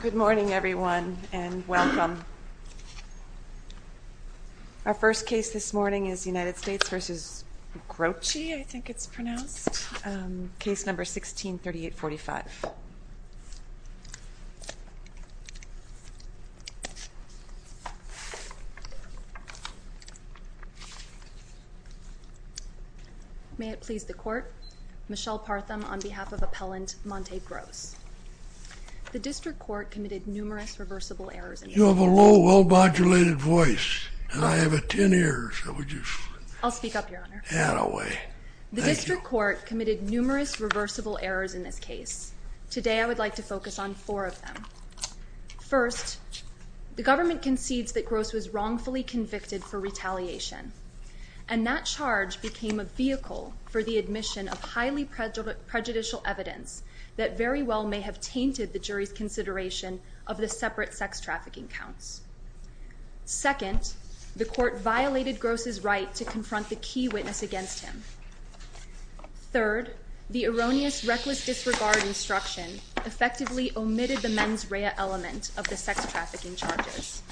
Good morning everyone and welcome. Our first case this morning is United States v. Groce, I think it's pronounced. Case number 163845. May it please the court. Michelle Partham on behalf of Appellant Monta Groce. The district court committed numerous reversible errors in this case. You have a low, well modulated voice and I have a ten ears. I'll speak up your honor. The district court committed numerous reversible errors in this case. Today I would like to focus on four of them. First, the government concedes that Groce was wrongfully convicted for retaliation and that charge became a vehicle for the admission of highly prejudicial evidence that very well may have tainted the jury's consideration of the separate sex trafficking counts. Second, the court violated Groce's right to confront the key witness against him. Third, the erroneous, reckless disregard instruction effectively omitted the mens rea element of the sex trafficking charges.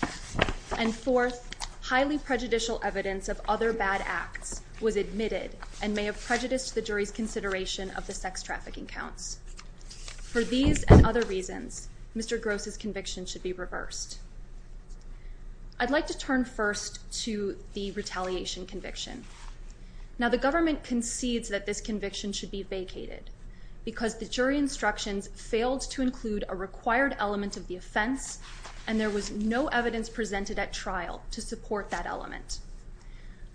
And fourth, highly prejudicial evidence of other bad acts was admitted and may have prejudiced the jury's consideration of the sex trafficking counts. For these and other reasons, Mr. Groce's conviction should be reversed. I'd like to turn first to the retaliation conviction. Now the government concedes that this conviction should be vacated because the jury instructions failed to include a required element of the offense and there was no evidence presented at trial to support that element.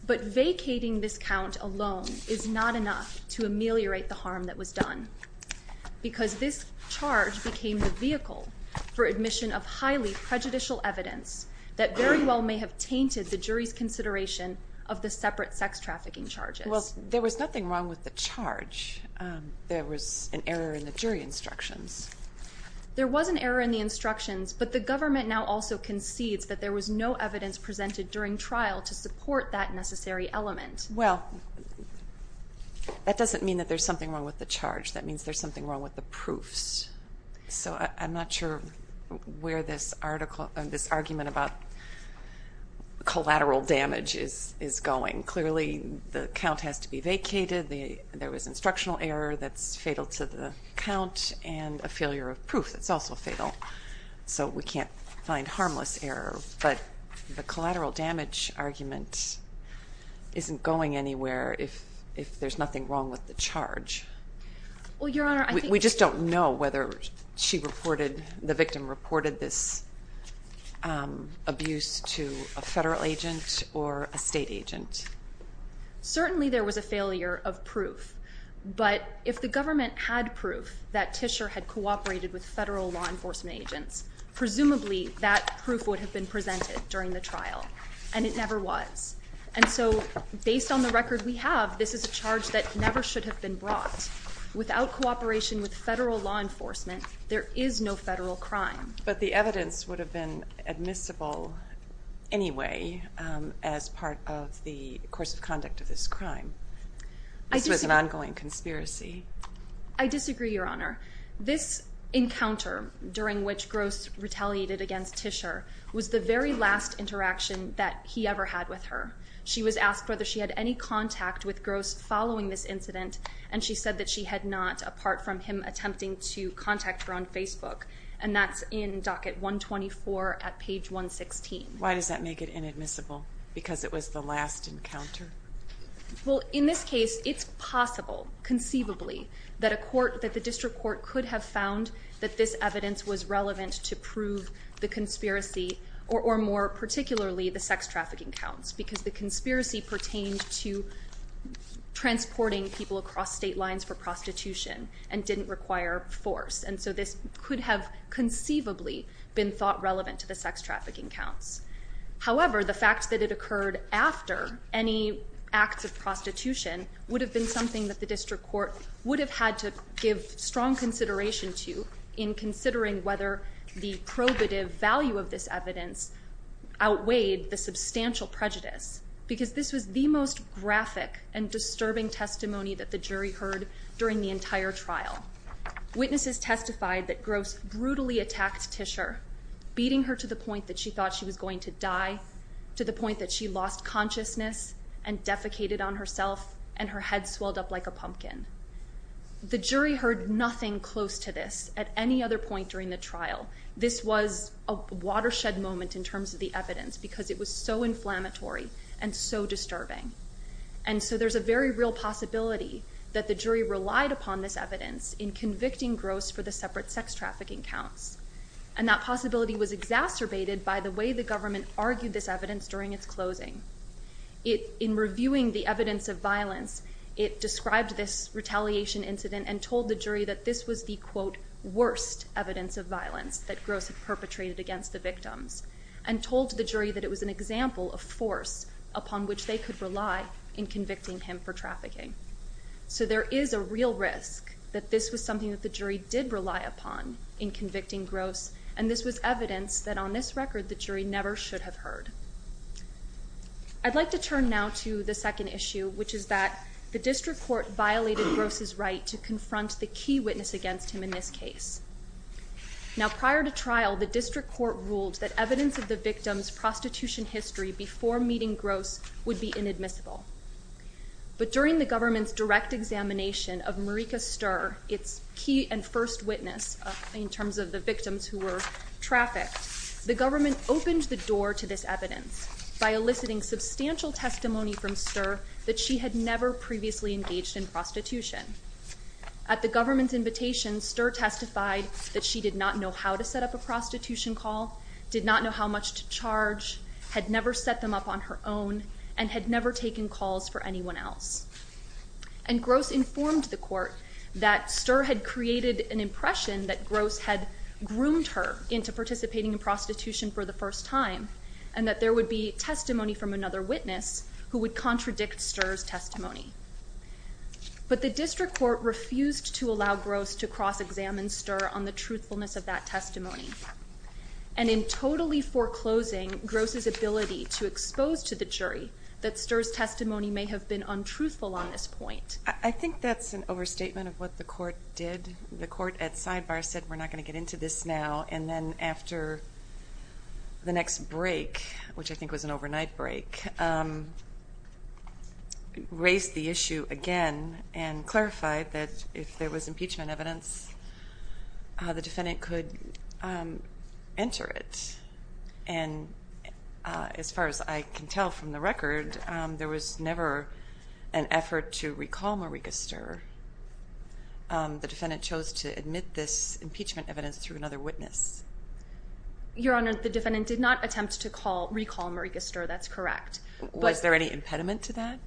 But vacating this count alone is not enough to ameliorate the harm that was done because this charge became the vehicle for admission of highly prejudicial evidence that very well may have tainted the jury's consideration of the separate sex trafficking charges. Well, there was nothing wrong with the charge. There was an error in the jury instructions. There was an error in the instructions, but the government now also concedes that there was no evidence presented during trial to support that necessary element. Well, that doesn't mean that there's something wrong with the charge. That means there's something wrong with the proofs. So I'm not sure where this argument about collateral damage is going. Clearly the count has to be vacated. There was instructional error that's fatal to the count and a failure of proof that's also fatal. So we can't find harmless error, but the collateral damage argument isn't going anywhere if there's nothing wrong with the charge. We just don't know whether the victim reported this abuse to a federal agent or a state agent. But if the government had proof that Tischer had cooperated with federal law enforcement agents, presumably that proof would have been presented during the trial, and it never was. And so based on the record we have, this is a charge that never should have been brought. Without cooperation with federal law enforcement, there is no federal crime. But the evidence would have been admissible anyway as part of the course of conduct of this crime. This was an ongoing conspiracy. I disagree, Your Honor. This encounter during which Gross retaliated against Tischer was the very last interaction that he ever had with her. She was asked whether she had any contact with Gross following this incident, and she said that she had not apart from him attempting to contact her on Facebook, and that's in docket 124 at page 116. Why does that make it inadmissible? Because it was the last encounter? Well, in this case it's possible, conceivably, that the district court could have found that this evidence was relevant to prove the conspiracy, or more particularly the sex trafficking counts, because the conspiracy pertained to transporting people across state lines for prostitution and didn't require force. And so this could have conceivably been thought relevant to the sex trafficking counts. However, the fact that it occurred after any acts of prostitution would have been something that the district court would have had to give strong consideration to in considering whether the probative value of this evidence outweighed the substantial prejudice, because this was the most graphic and disturbing testimony that the jury heard during the entire trial. Witnesses testified that Gross brutally attacked Tischer, beating her to the point that she thought she was going to die, to the point that she lost consciousness and defecated on herself, and her head swelled up like a pumpkin. The jury heard nothing close to this at any other point during the trial. This was a watershed moment in terms of the evidence because it was so inflammatory and so disturbing. And so there's a very real possibility that the jury relied upon this evidence in convicting Gross for the separate sex trafficking counts, and that possibility was exacerbated by the way the government argued this evidence during its closing. In reviewing the evidence of violence, it described this retaliation incident and told the jury that this was the, quote, worst evidence of violence that Gross had perpetrated against the victims, and told the jury that it was an example of force upon which they could rely in convicting him for trafficking. So there is a real risk that this was something that the jury did rely upon in convicting Gross, and this was evidence that, on this record, the jury never should have heard. I'd like to turn now to the second issue, which is that the district court violated Gross's right to confront the key witness against him in this case. Now, prior to trial, the district court ruled that evidence of the victim's prostitution history before meeting Gross would be inadmissible. But during the government's direct examination of Marika Sturr, its key and first witness in terms of the victims who were trafficked, the government opened the door to this evidence by eliciting substantial testimony from Sturr that she had never previously engaged in prostitution. At the government's invitation, Sturr testified that she did not know how to set up a prostitution call, did not know how much to charge, had never set them up on her own, and had never taken calls for anyone else. And Gross informed the court that Sturr had created an impression that Gross had groomed her into participating in prostitution for the first time and that there would be testimony from another witness who would contradict Sturr's testimony. But the district court refused to allow Gross to cross-examine Sturr on the truthfulness of that testimony. And in totally foreclosing Gross's ability to expose to the jury that Sturr's testimony may have been untruthful on this point. I think that's an overstatement of what the court did. The court at sidebar said we're not going to get into this now, and then after the next break, which I think was an overnight break, raised the issue again and clarified that if there was impeachment evidence, the defendant could enter it. And as far as I can tell from the record, there was never an effort to recall Marika Sturr. The defendant chose to admit this impeachment evidence through another witness. Your Honor, the defendant did not attempt to recall Marika Sturr. That's correct. Was there any impediment to that?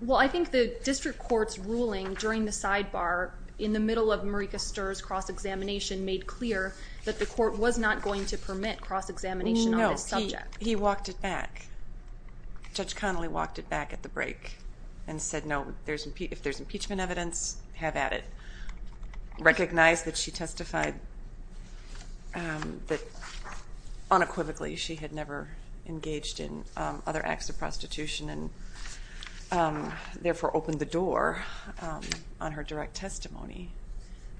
Well, I think the district court's ruling during the sidebar in the middle of Marika Sturr's cross-examination made clear that the court was not going to permit cross-examination on this subject. No, he walked it back. Judge Connolly walked it back at the break and said, no, if there's impeachment evidence, have at it. Recognized that she testified unequivocally. She had never engaged in other acts of prostitution and therefore opened the door on her direct testimony.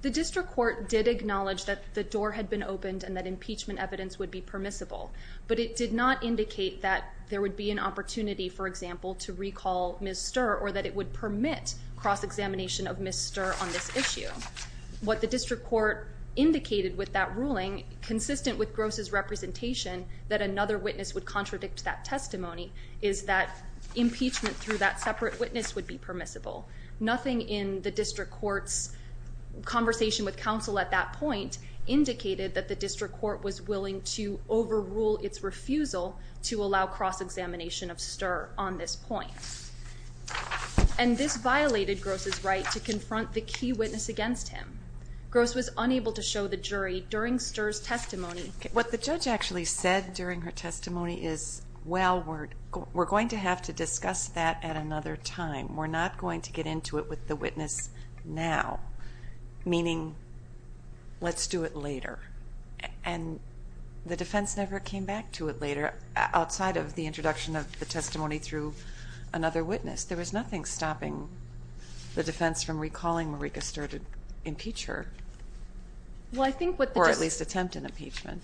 The district court did acknowledge that the door had been opened and that impeachment evidence would be permissible, but it did not indicate that there would be an opportunity, for example, to recall Ms. Sturr or that it would permit cross-examination of Ms. Sturr on this issue. What the district court indicated with that ruling, consistent with Gross's representation that another witness would contradict that testimony, is that impeachment through that separate witness would be permissible. Nothing in the district court's conversation with counsel at that point indicated that the district court was willing to overrule its refusal to allow cross-examination of Sturr on this point. And this violated Gross's right to confront the key witness against him. Gross was unable to show the jury during Sturr's testimony. What the judge actually said during her testimony is, well, we're going to have to discuss that at another time. We're not going to get into it with the witness now, meaning let's do it later. And the defense never came back to it later, outside of the introduction of the testimony through another witness. There was nothing stopping the defense from recalling Marika Sturr to impeach her, or at least attempt an impeachment.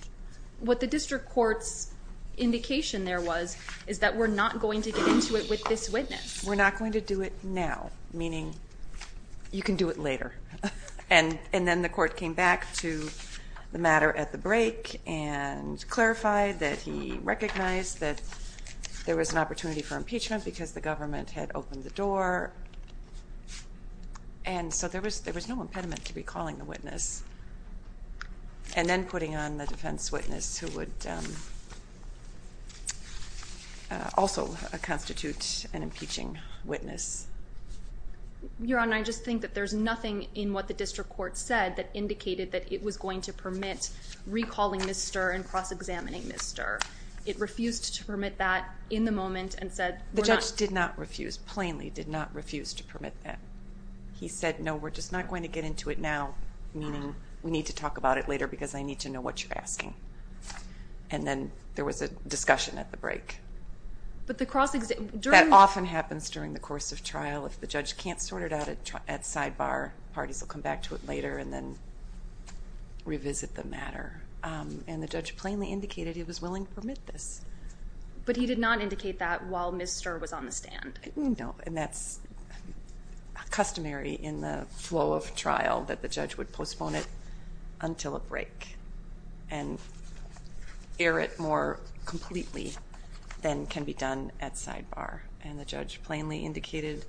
What the district court's indication there was is that we're not going to get into it with this witness. We're not going to do it now, meaning you can do it later. And then the court came back to the matter at the break and clarified that he recognized that there was an opportunity for impeachment because the government had opened the door. And so there was no impediment to recalling the witness and then putting on the defense witness, who would also constitute an impeaching witness. Your Honor, I just think that there's nothing in what the district court said that indicated that it was going to permit recalling Ms. Sturr and cross-examining Ms. Sturr. It refused to permit that in the moment and said we're not. The judge did not refuse, plainly did not refuse to permit that. He said, no, we're just not going to get into it now, meaning we need to talk about it later because I need to know what you're asking. And then there was a discussion at the break. That often happens during the course of trial. If the judge can't sort it out at sidebar, parties will come back to it later and then revisit the matter. And the judge plainly indicated he was willing to permit this. But he did not indicate that while Ms. Sturr was on the stand. And that's customary in the flow of trial, that the judge would postpone it until a break and air it more completely than can be done at sidebar. And the judge plainly indicated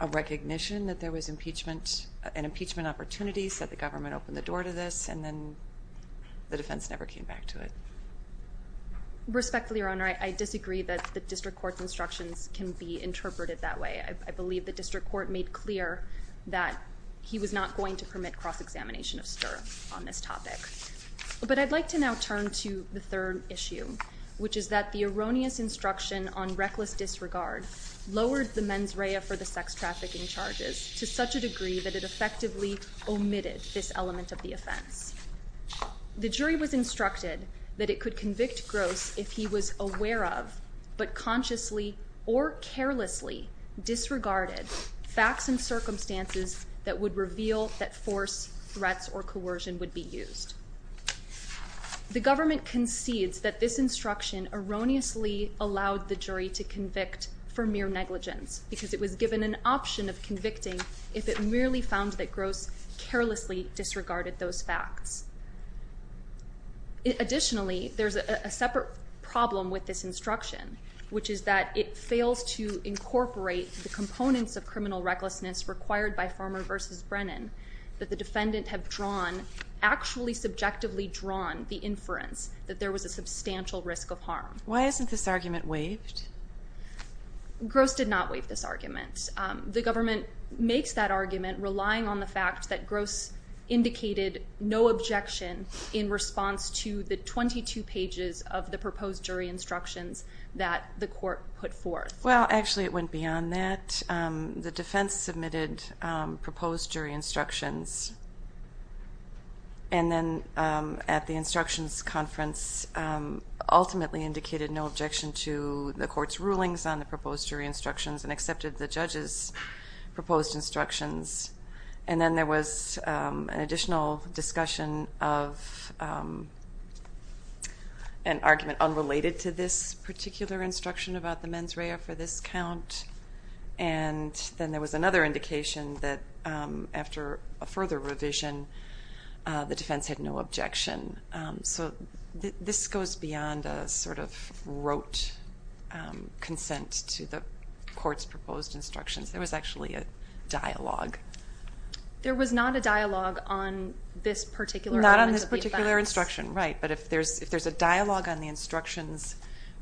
a recognition that there was an impeachment opportunity, said the government opened the door to this, and then the defense never came back to it. Respectfully, Your Honor, I disagree that the district court's instructions can be interpreted that way. I believe the district court made clear that he was not going to permit cross-examination of Sturr on this topic. But I'd like to now turn to the third issue, which is that the erroneous instruction on reckless disregard lowered the mens rea for the sex trafficking charges to such a degree that it effectively omitted this element of the offense. The jury was instructed that it could convict Gross if he was aware of, but consciously or carelessly disregarded, facts and circumstances that would reveal that force, threats, or coercion would be used. The government concedes that this instruction erroneously allowed the jury to convict for mere negligence because it was given an option of convicting if it merely found that Gross carelessly disregarded those facts. Additionally, there's a separate problem with this instruction, which is that it fails to incorporate the components of criminal recklessness required by Farmer v. Brennan that the defendant have drawn, actually subjectively drawn the inference that there was a substantial risk of harm. Why isn't this argument waived? Gross did not waive this argument. The government makes that argument relying on the fact that Gross indicated no objection in response to the 22 pages of the proposed jury instructions that the court put forth. Well, actually it went beyond that. The defense submitted proposed jury instructions and then at the instructions conference ultimately indicated no objection to the court's rulings on the proposed jury instructions and accepted the judge's proposed instructions. And then there was an additional discussion of an argument unrelated to this particular instruction about the mens rea for this count, and then there was another indication that after a further revision the defense had no objection. So this goes beyond a sort of rote consent to the court's proposed instructions. There was actually a dialogue. There was not a dialogue on this particular element of the offense. Not on this particular instruction, right. But if there's a dialogue on the instructions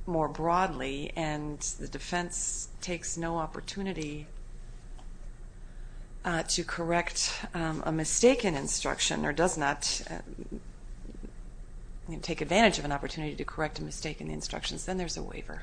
more broadly and the defense takes no opportunity to correct a mistaken instruction or does not take advantage of an opportunity to correct a mistaken instruction, then there's a waiver.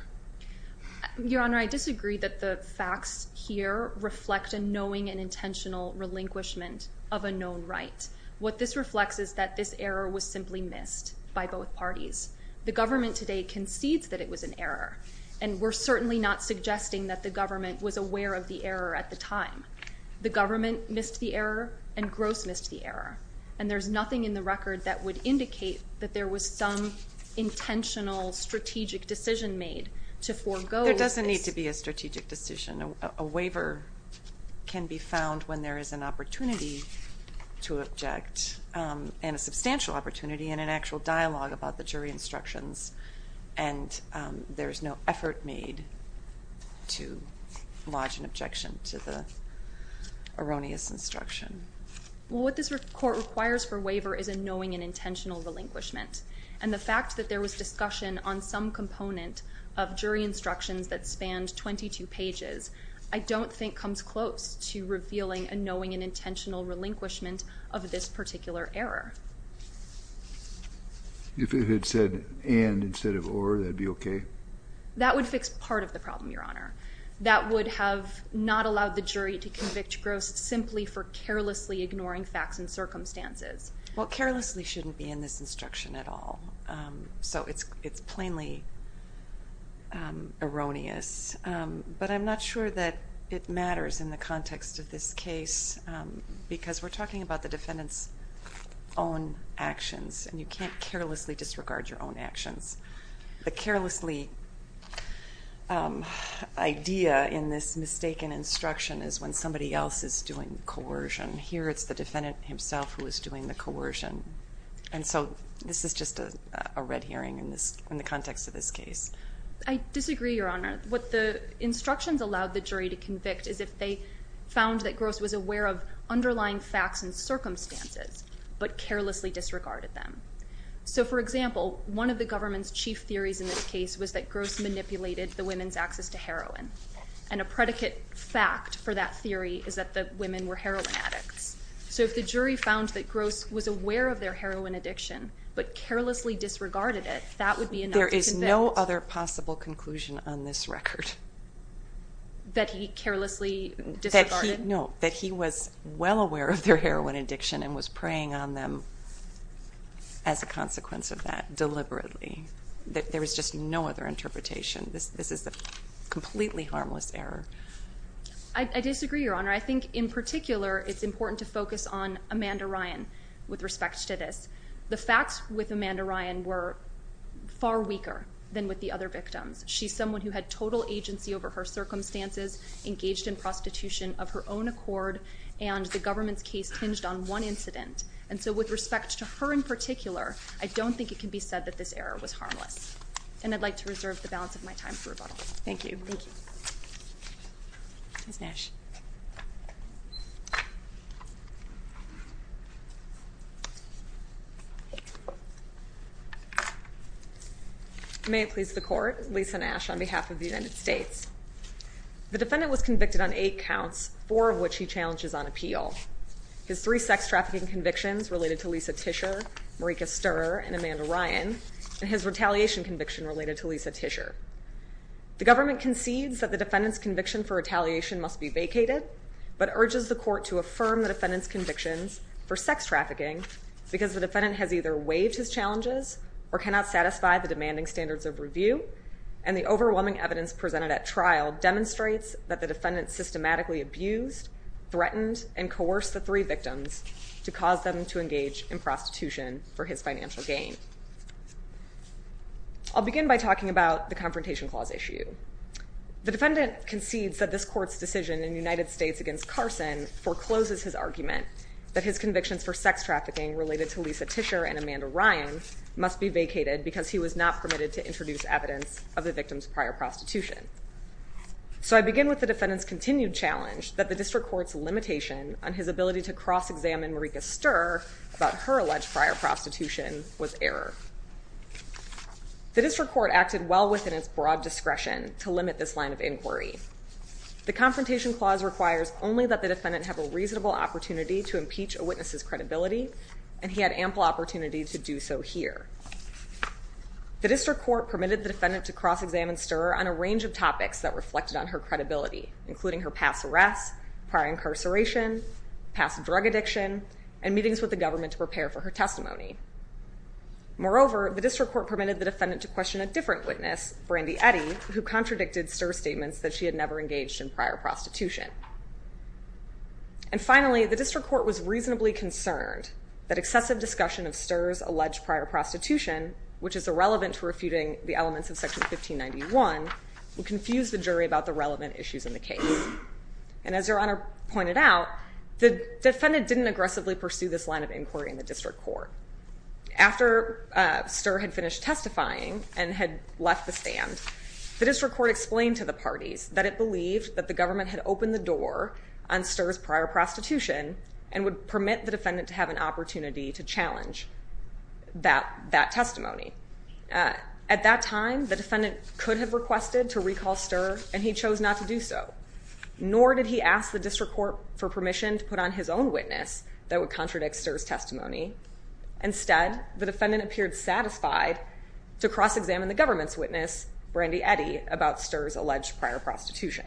Your Honor, I disagree that the facts here reflect a knowing and intentional relinquishment of a known right. What this reflects is that this error was simply missed by both parties. The government today concedes that it was an error, and we're certainly not suggesting that the government was aware of the error at the time. The government missed the error and Gross missed the error, and there's nothing in the record that would indicate that there was some intentional strategic decision made to forego. There doesn't need to be a strategic decision. A waiver can be found when there is an opportunity to object and a substantial opportunity and an actual dialogue about the jury instructions, and there's no effort made to lodge an objection to the erroneous instruction. What this court requires for waiver is a knowing and intentional relinquishment, and the fact that there was discussion on some component of jury instructions that spanned 22 pages, I don't think comes close to revealing a knowing and intentional relinquishment of this particular error. If it had said and instead of or, that would be okay? That would fix part of the problem, Your Honor. That would have not allowed the jury to convict Gross simply for carelessly ignoring facts and circumstances. Well, carelessly shouldn't be in this instruction at all, so it's plainly erroneous, but I'm not sure that it matters in the context of this case because we're talking about the defendant's own actions, and you can't carelessly disregard your own actions. The carelessly idea in this mistaken instruction is when somebody else is doing coercion. Here it's the defendant himself who is doing the coercion, and so this is just a red herring in the context of this case. I disagree, Your Honor. What the instructions allowed the jury to convict is if they found that Gross was aware of underlying facts and circumstances but carelessly disregarded them. So, for example, one of the government's chief theories in this case was that Gross manipulated the women's access to heroin, and a predicate fact for that theory is that the women were heroin addicts. So if the jury found that Gross was aware of their heroin addiction but carelessly disregarded it, that would be enough to convict. There is no other possible conclusion on this record. That he carelessly disregarded? No, that he was well aware of their heroin addiction and was preying on them as a consequence of that deliberately. There is just no other interpretation. This is a completely harmless error. I disagree, Your Honor. I think in particular it's important to focus on Amanda Ryan with respect to this. The facts with Amanda Ryan were far weaker than with the other victims. She's someone who had total agency over her circumstances, engaged in prostitution of her own accord, and the government's case hinged on one incident. And so with respect to her in particular, I don't think it can be said that this error was harmless. And I'd like to reserve the balance of my time for rebuttal. Thank you. Thank you. Ms. Nash. May it please the Court. Lisa Nash on behalf of the United States. The defendant was convicted on eight counts, four of which he challenges on appeal. His three sex trafficking convictions related to Lisa Tischer, Marika Stirrer, and Amanda Ryan, and his retaliation conviction related to Lisa Tischer. The government concedes that the defendant's conviction for retaliation must be vacated, but urges the Court to affirm the defendant's convictions for sex trafficking because the defendant has either waived his challenges or cannot satisfy the demanding standards of review, and the overwhelming evidence presented at trial demonstrates that the defendant systematically abused, threatened, and coerced the three victims to cause them to engage in prostitution for his financial gain. I'll begin by talking about the Confrontation Clause issue. The defendant concedes that this Court's decision in the United States against Carson forecloses his argument that his convictions for sex trafficking related to Lisa Tischer and Amanda Ryan must be vacated because he was not permitted to introduce evidence of the victim's prior prostitution. So I begin with the defendant's continued challenge that the District Court's limitation on his ability to cross-examine Marika Stirrer about her alleged prior prostitution was error. The District Court acted well within its broad discretion to limit this line of inquiry. The Confrontation Clause requires only that the defendant have a reasonable opportunity to impeach a witness's credibility, and he had ample opportunity to do so here. The District Court permitted the defendant to cross-examine Stirrer on a range of topics that reflected on her credibility, including her past arrests, prior incarceration, past drug addiction, and meetings with the government to prepare for her testimony. Moreover, the District Court permitted the defendant to question a different witness, Brandy Eddy, who contradicted Stirrer's statements that she had never engaged in prior prostitution. And finally, the District Court was reasonably concerned that excessive discussion of Stirrer's alleged prior prostitution, which is irrelevant to refuting the elements of Section 1591, would confuse the jury about the relevant issues in the case. And as Your Honor pointed out, the defendant didn't aggressively pursue this line of inquiry in the District Court. After Stirrer had finished testifying and had left the stand, the District Court explained to the parties that it believed that the government had opened the door on Stirrer's prior prostitution and would permit the defendant to have an opportunity to challenge that testimony. At that time, the defendant could have requested to recall Stirrer, and he chose not to do so. Nor did he ask the District Court for permission to put on his own witness that would contradict Stirrer's testimony. Instead, the defendant appeared satisfied to cross-examine the government's witness, Brandy Eddy, about Stirrer's alleged prior prostitution.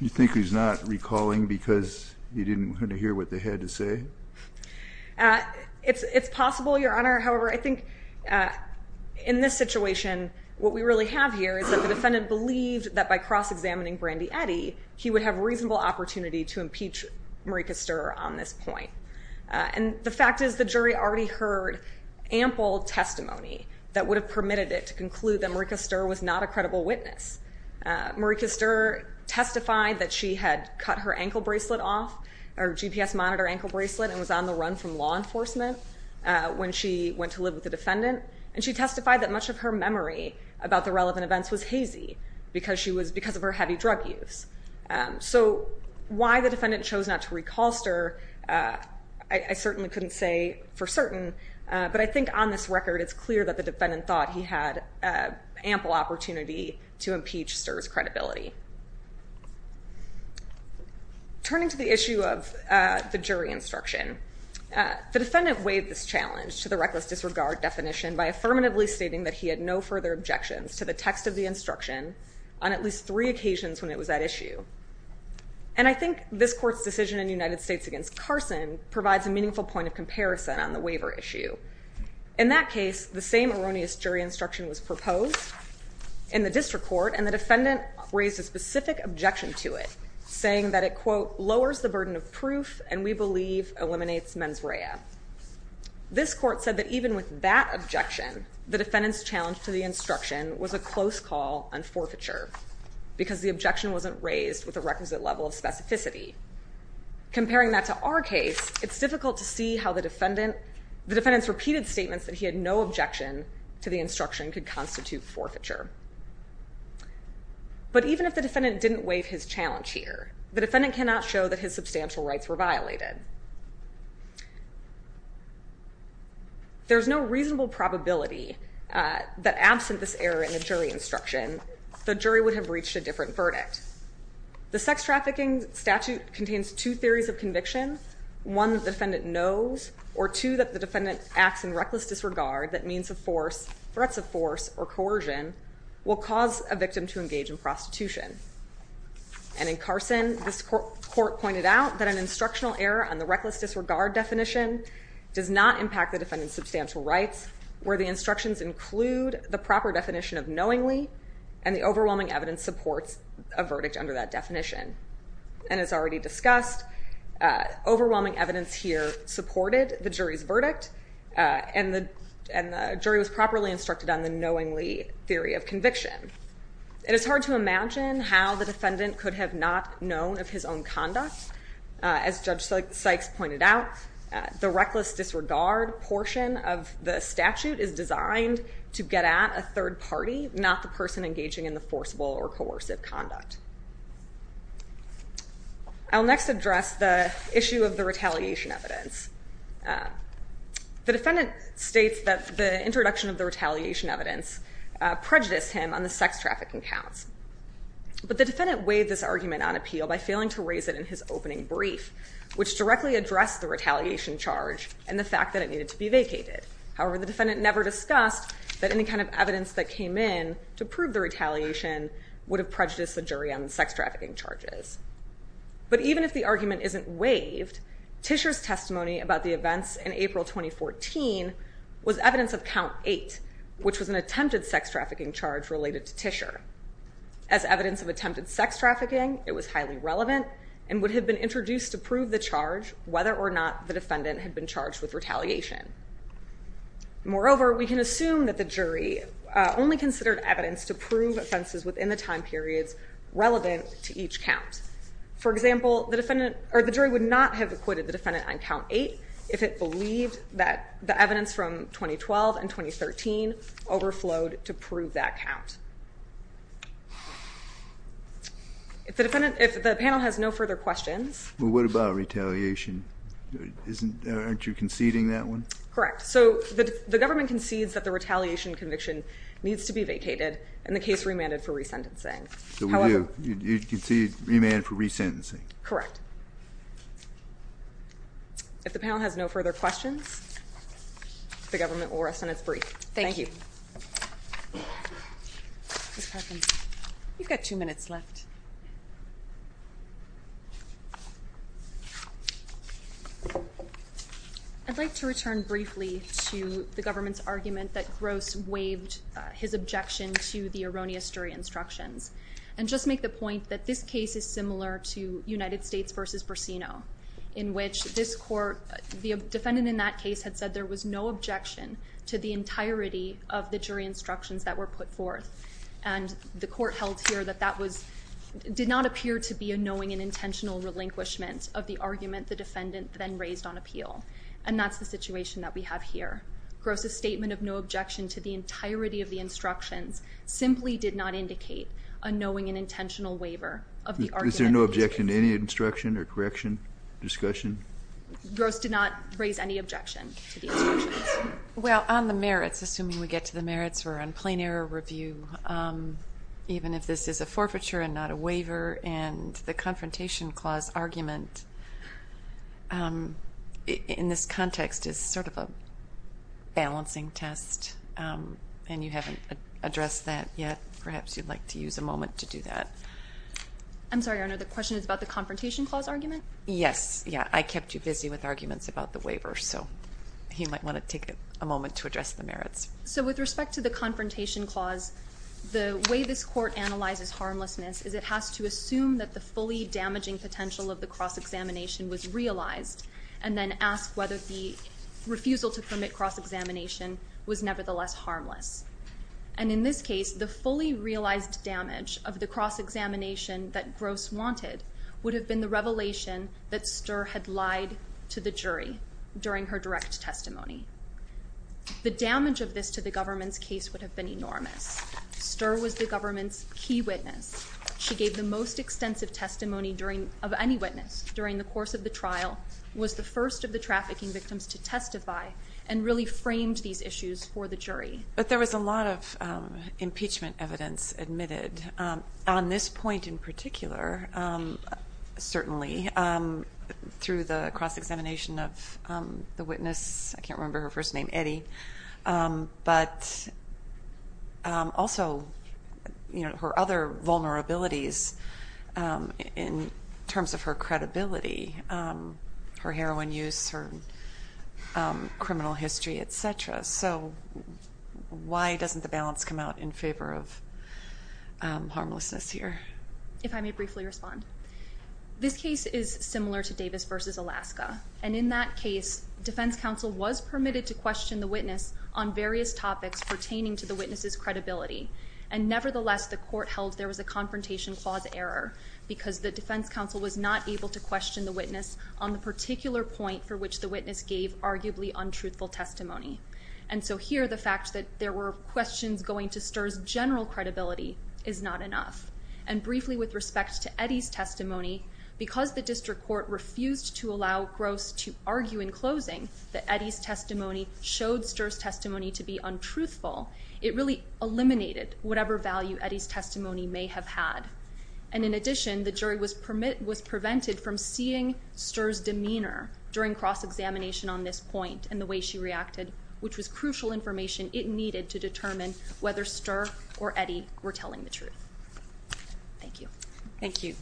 You think he's not recalling because he didn't hear what they had to say? It's possible, Your Honor. However, I think in this situation, what we really have here is that the defendant believed that by cross-examining Brandy Eddy, he would have reasonable opportunity to impeach Marika Stirrer on this point. And the fact is the jury already heard ample testimony that would have permitted it to conclude that Marika Stirrer was not a credible witness. Marika Stirrer testified that she had cut her ankle bracelet off, her GPS monitor ankle bracelet, and was on the run from law enforcement when she went to live with the defendant. And she testified that much of her memory about the relevant events was hazy because of her heavy drug use. So why the defendant chose not to recall Stirrer, I certainly couldn't say for certain, but I think on this record it's clear that the defendant thought he had ample opportunity to impeach Stirrer's credibility. Turning to the issue of the jury instruction, the defendant weighed this challenge to the reckless disregard definition by affirmatively stating that he had no further objections to the text of the instruction on at least three occasions when it was at issue. And I think this court's decision in the United States against Carson provides a meaningful point of comparison on the waiver issue. In that case, the same erroneous jury instruction was proposed in the district court, and the defendant raised a specific objection to it, saying that it, quote, and we believe eliminates mens rea. This court said that even with that objection, the defendant's challenge to the instruction was a close call on forfeiture because the objection wasn't raised with a requisite level of specificity. Comparing that to our case, it's difficult to see how the defendant's repeated statements that he had no objection to the instruction could constitute forfeiture. But even if the defendant didn't waive his challenge here, the defendant cannot show that his substantial rights were violated. There's no reasonable probability that absent this error in the jury instruction, the jury would have reached a different verdict. The sex trafficking statute contains two theories of conviction, one that the defendant knows, or two that the defendant acts in reckless disregard that means of force, threats of force, or coercion will cause a victim to engage in prostitution. And in Carson, this court pointed out that an instructional error on the reckless disregard definition does not impact the defendant's substantial rights where the instructions include the proper definition of knowingly, and the overwhelming evidence supports a verdict under that definition. And as already discussed, overwhelming evidence here supported the jury's verdict, and the jury was properly instructed on the knowingly theory of conviction. It is hard to imagine how the defendant could have not known of his own conduct. As Judge Sykes pointed out, the reckless disregard portion of the statute is designed to get at a third party, not the person engaging in the forcible or coercive conduct. I'll next address the issue of the retaliation evidence. The defendant states that the introduction of the retaliation evidence prejudiced him on the sex trafficking counts, but the defendant weighed this argument on appeal by failing to raise it in his opening brief, which directly addressed the retaliation charge and the fact that it needed to be vacated. However, the defendant never discussed that any kind of evidence that came in to prove the retaliation would have prejudiced the jury on the sex trafficking charges. But even if the argument isn't waived, Tischer's testimony about the events in April 2014 was evidence of Count 8, which was an attempted sex trafficking charge related to Tischer. As evidence of attempted sex trafficking, it was highly relevant and would have been introduced to prove the charge whether or not the defendant had been charged with retaliation. Moreover, we can assume that the jury only considered evidence to prove offenses within the time periods relevant to each count. For example, the jury would not have acquitted the defendant on Count 8 if it believed that the evidence from 2012 and 2013 overflowed to prove that count. If the panel has no further questions... Well, what about retaliation? Aren't you conceding that one? Correct. So the government concedes that the retaliation conviction needs to be vacated and the case remanded for resentencing. So we do. You concede remand for resentencing. Correct. If the panel has no further questions, the government will rest on its brief. Thank you. Ms. Perkins, you've got two minutes left. I'd like to return briefly to the government's argument that Gross waived his objection to the erroneous jury instructions and just make the point that this case is similar to United States v. Bursino in which this court... The defendant in that case had said there was no objection to the entirety of the jury instructions that were put forth. And the court held here that that did not appear to be a knowing and intentional relinquishment of the argument the defendant then raised on appeal. And that's the situation that we have here. Gross's statement of no objection to the entirety of the instructions simply did not indicate a knowing and intentional waiver of the argument. Is there no objection to any instruction or correction, discussion? Gross did not raise any objection to the instructions. Well, on the merits, assuming we get to the merits, we're on plain error review. Even if this is a forfeiture and not a waiver, and the confrontation clause argument in this context is sort of a balancing test, and you haven't addressed that yet, perhaps you'd like to use a moment to do that. I'm sorry, Your Honor, the question is about the confrontation clause argument? Yes. I kept you busy with arguments about the waiver, so you might want to take a moment to address the merits. So with respect to the confrontation clause, the way this court analyzes harmlessness is it has to assume that the fully damaging potential of the cross-examination was realized and then ask whether the refusal to permit cross-examination was nevertheless harmless. And in this case, the fully realized damage of the cross-examination that Gross wanted would have been the revelation that Sturr had lied to the jury during her direct testimony. The damage of this to the government's case would have been enormous. Sturr was the government's key witness. She gave the most extensive testimony of any witness during the course of the trial, was the first of the trafficking victims to testify, and really framed these issues for the jury. But there was a lot of impeachment evidence admitted on this point in particular, certainly, through the cross-examination of the witness. I can't remember her first name, Eddie. But also her other vulnerabilities in terms of her credibility, her heroin use, her criminal history, et cetera. So why doesn't the balance come out in favor of harmlessness here? If I may briefly respond. This case is similar to Davis v. Alaska. And in that case, defense counsel was permitted to question the witness on various topics pertaining to the witness's credibility. And nevertheless, the court held there was a confrontation clause error because the defense counsel was not able to question the witness on the particular point for which the witness gave arguably untruthful testimony. And so here, the fact that there were questions going to Sturr's general credibility is not enough. And briefly with respect to Eddie's testimony, because the district court refused to allow Gross to argue in closing that Eddie's testimony showed Sturr's testimony to be untruthful, it really eliminated whatever value Eddie's testimony may have had. And in addition, the jury was prevented from seeing Sturr's demeanor during cross-examination on this point and the way she reacted, which was crucial information it needed to determine whether Sturr or Eddie were telling the truth. Thank you. Thank you.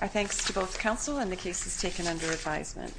Our thanks to both counsel and the cases taken under advisement.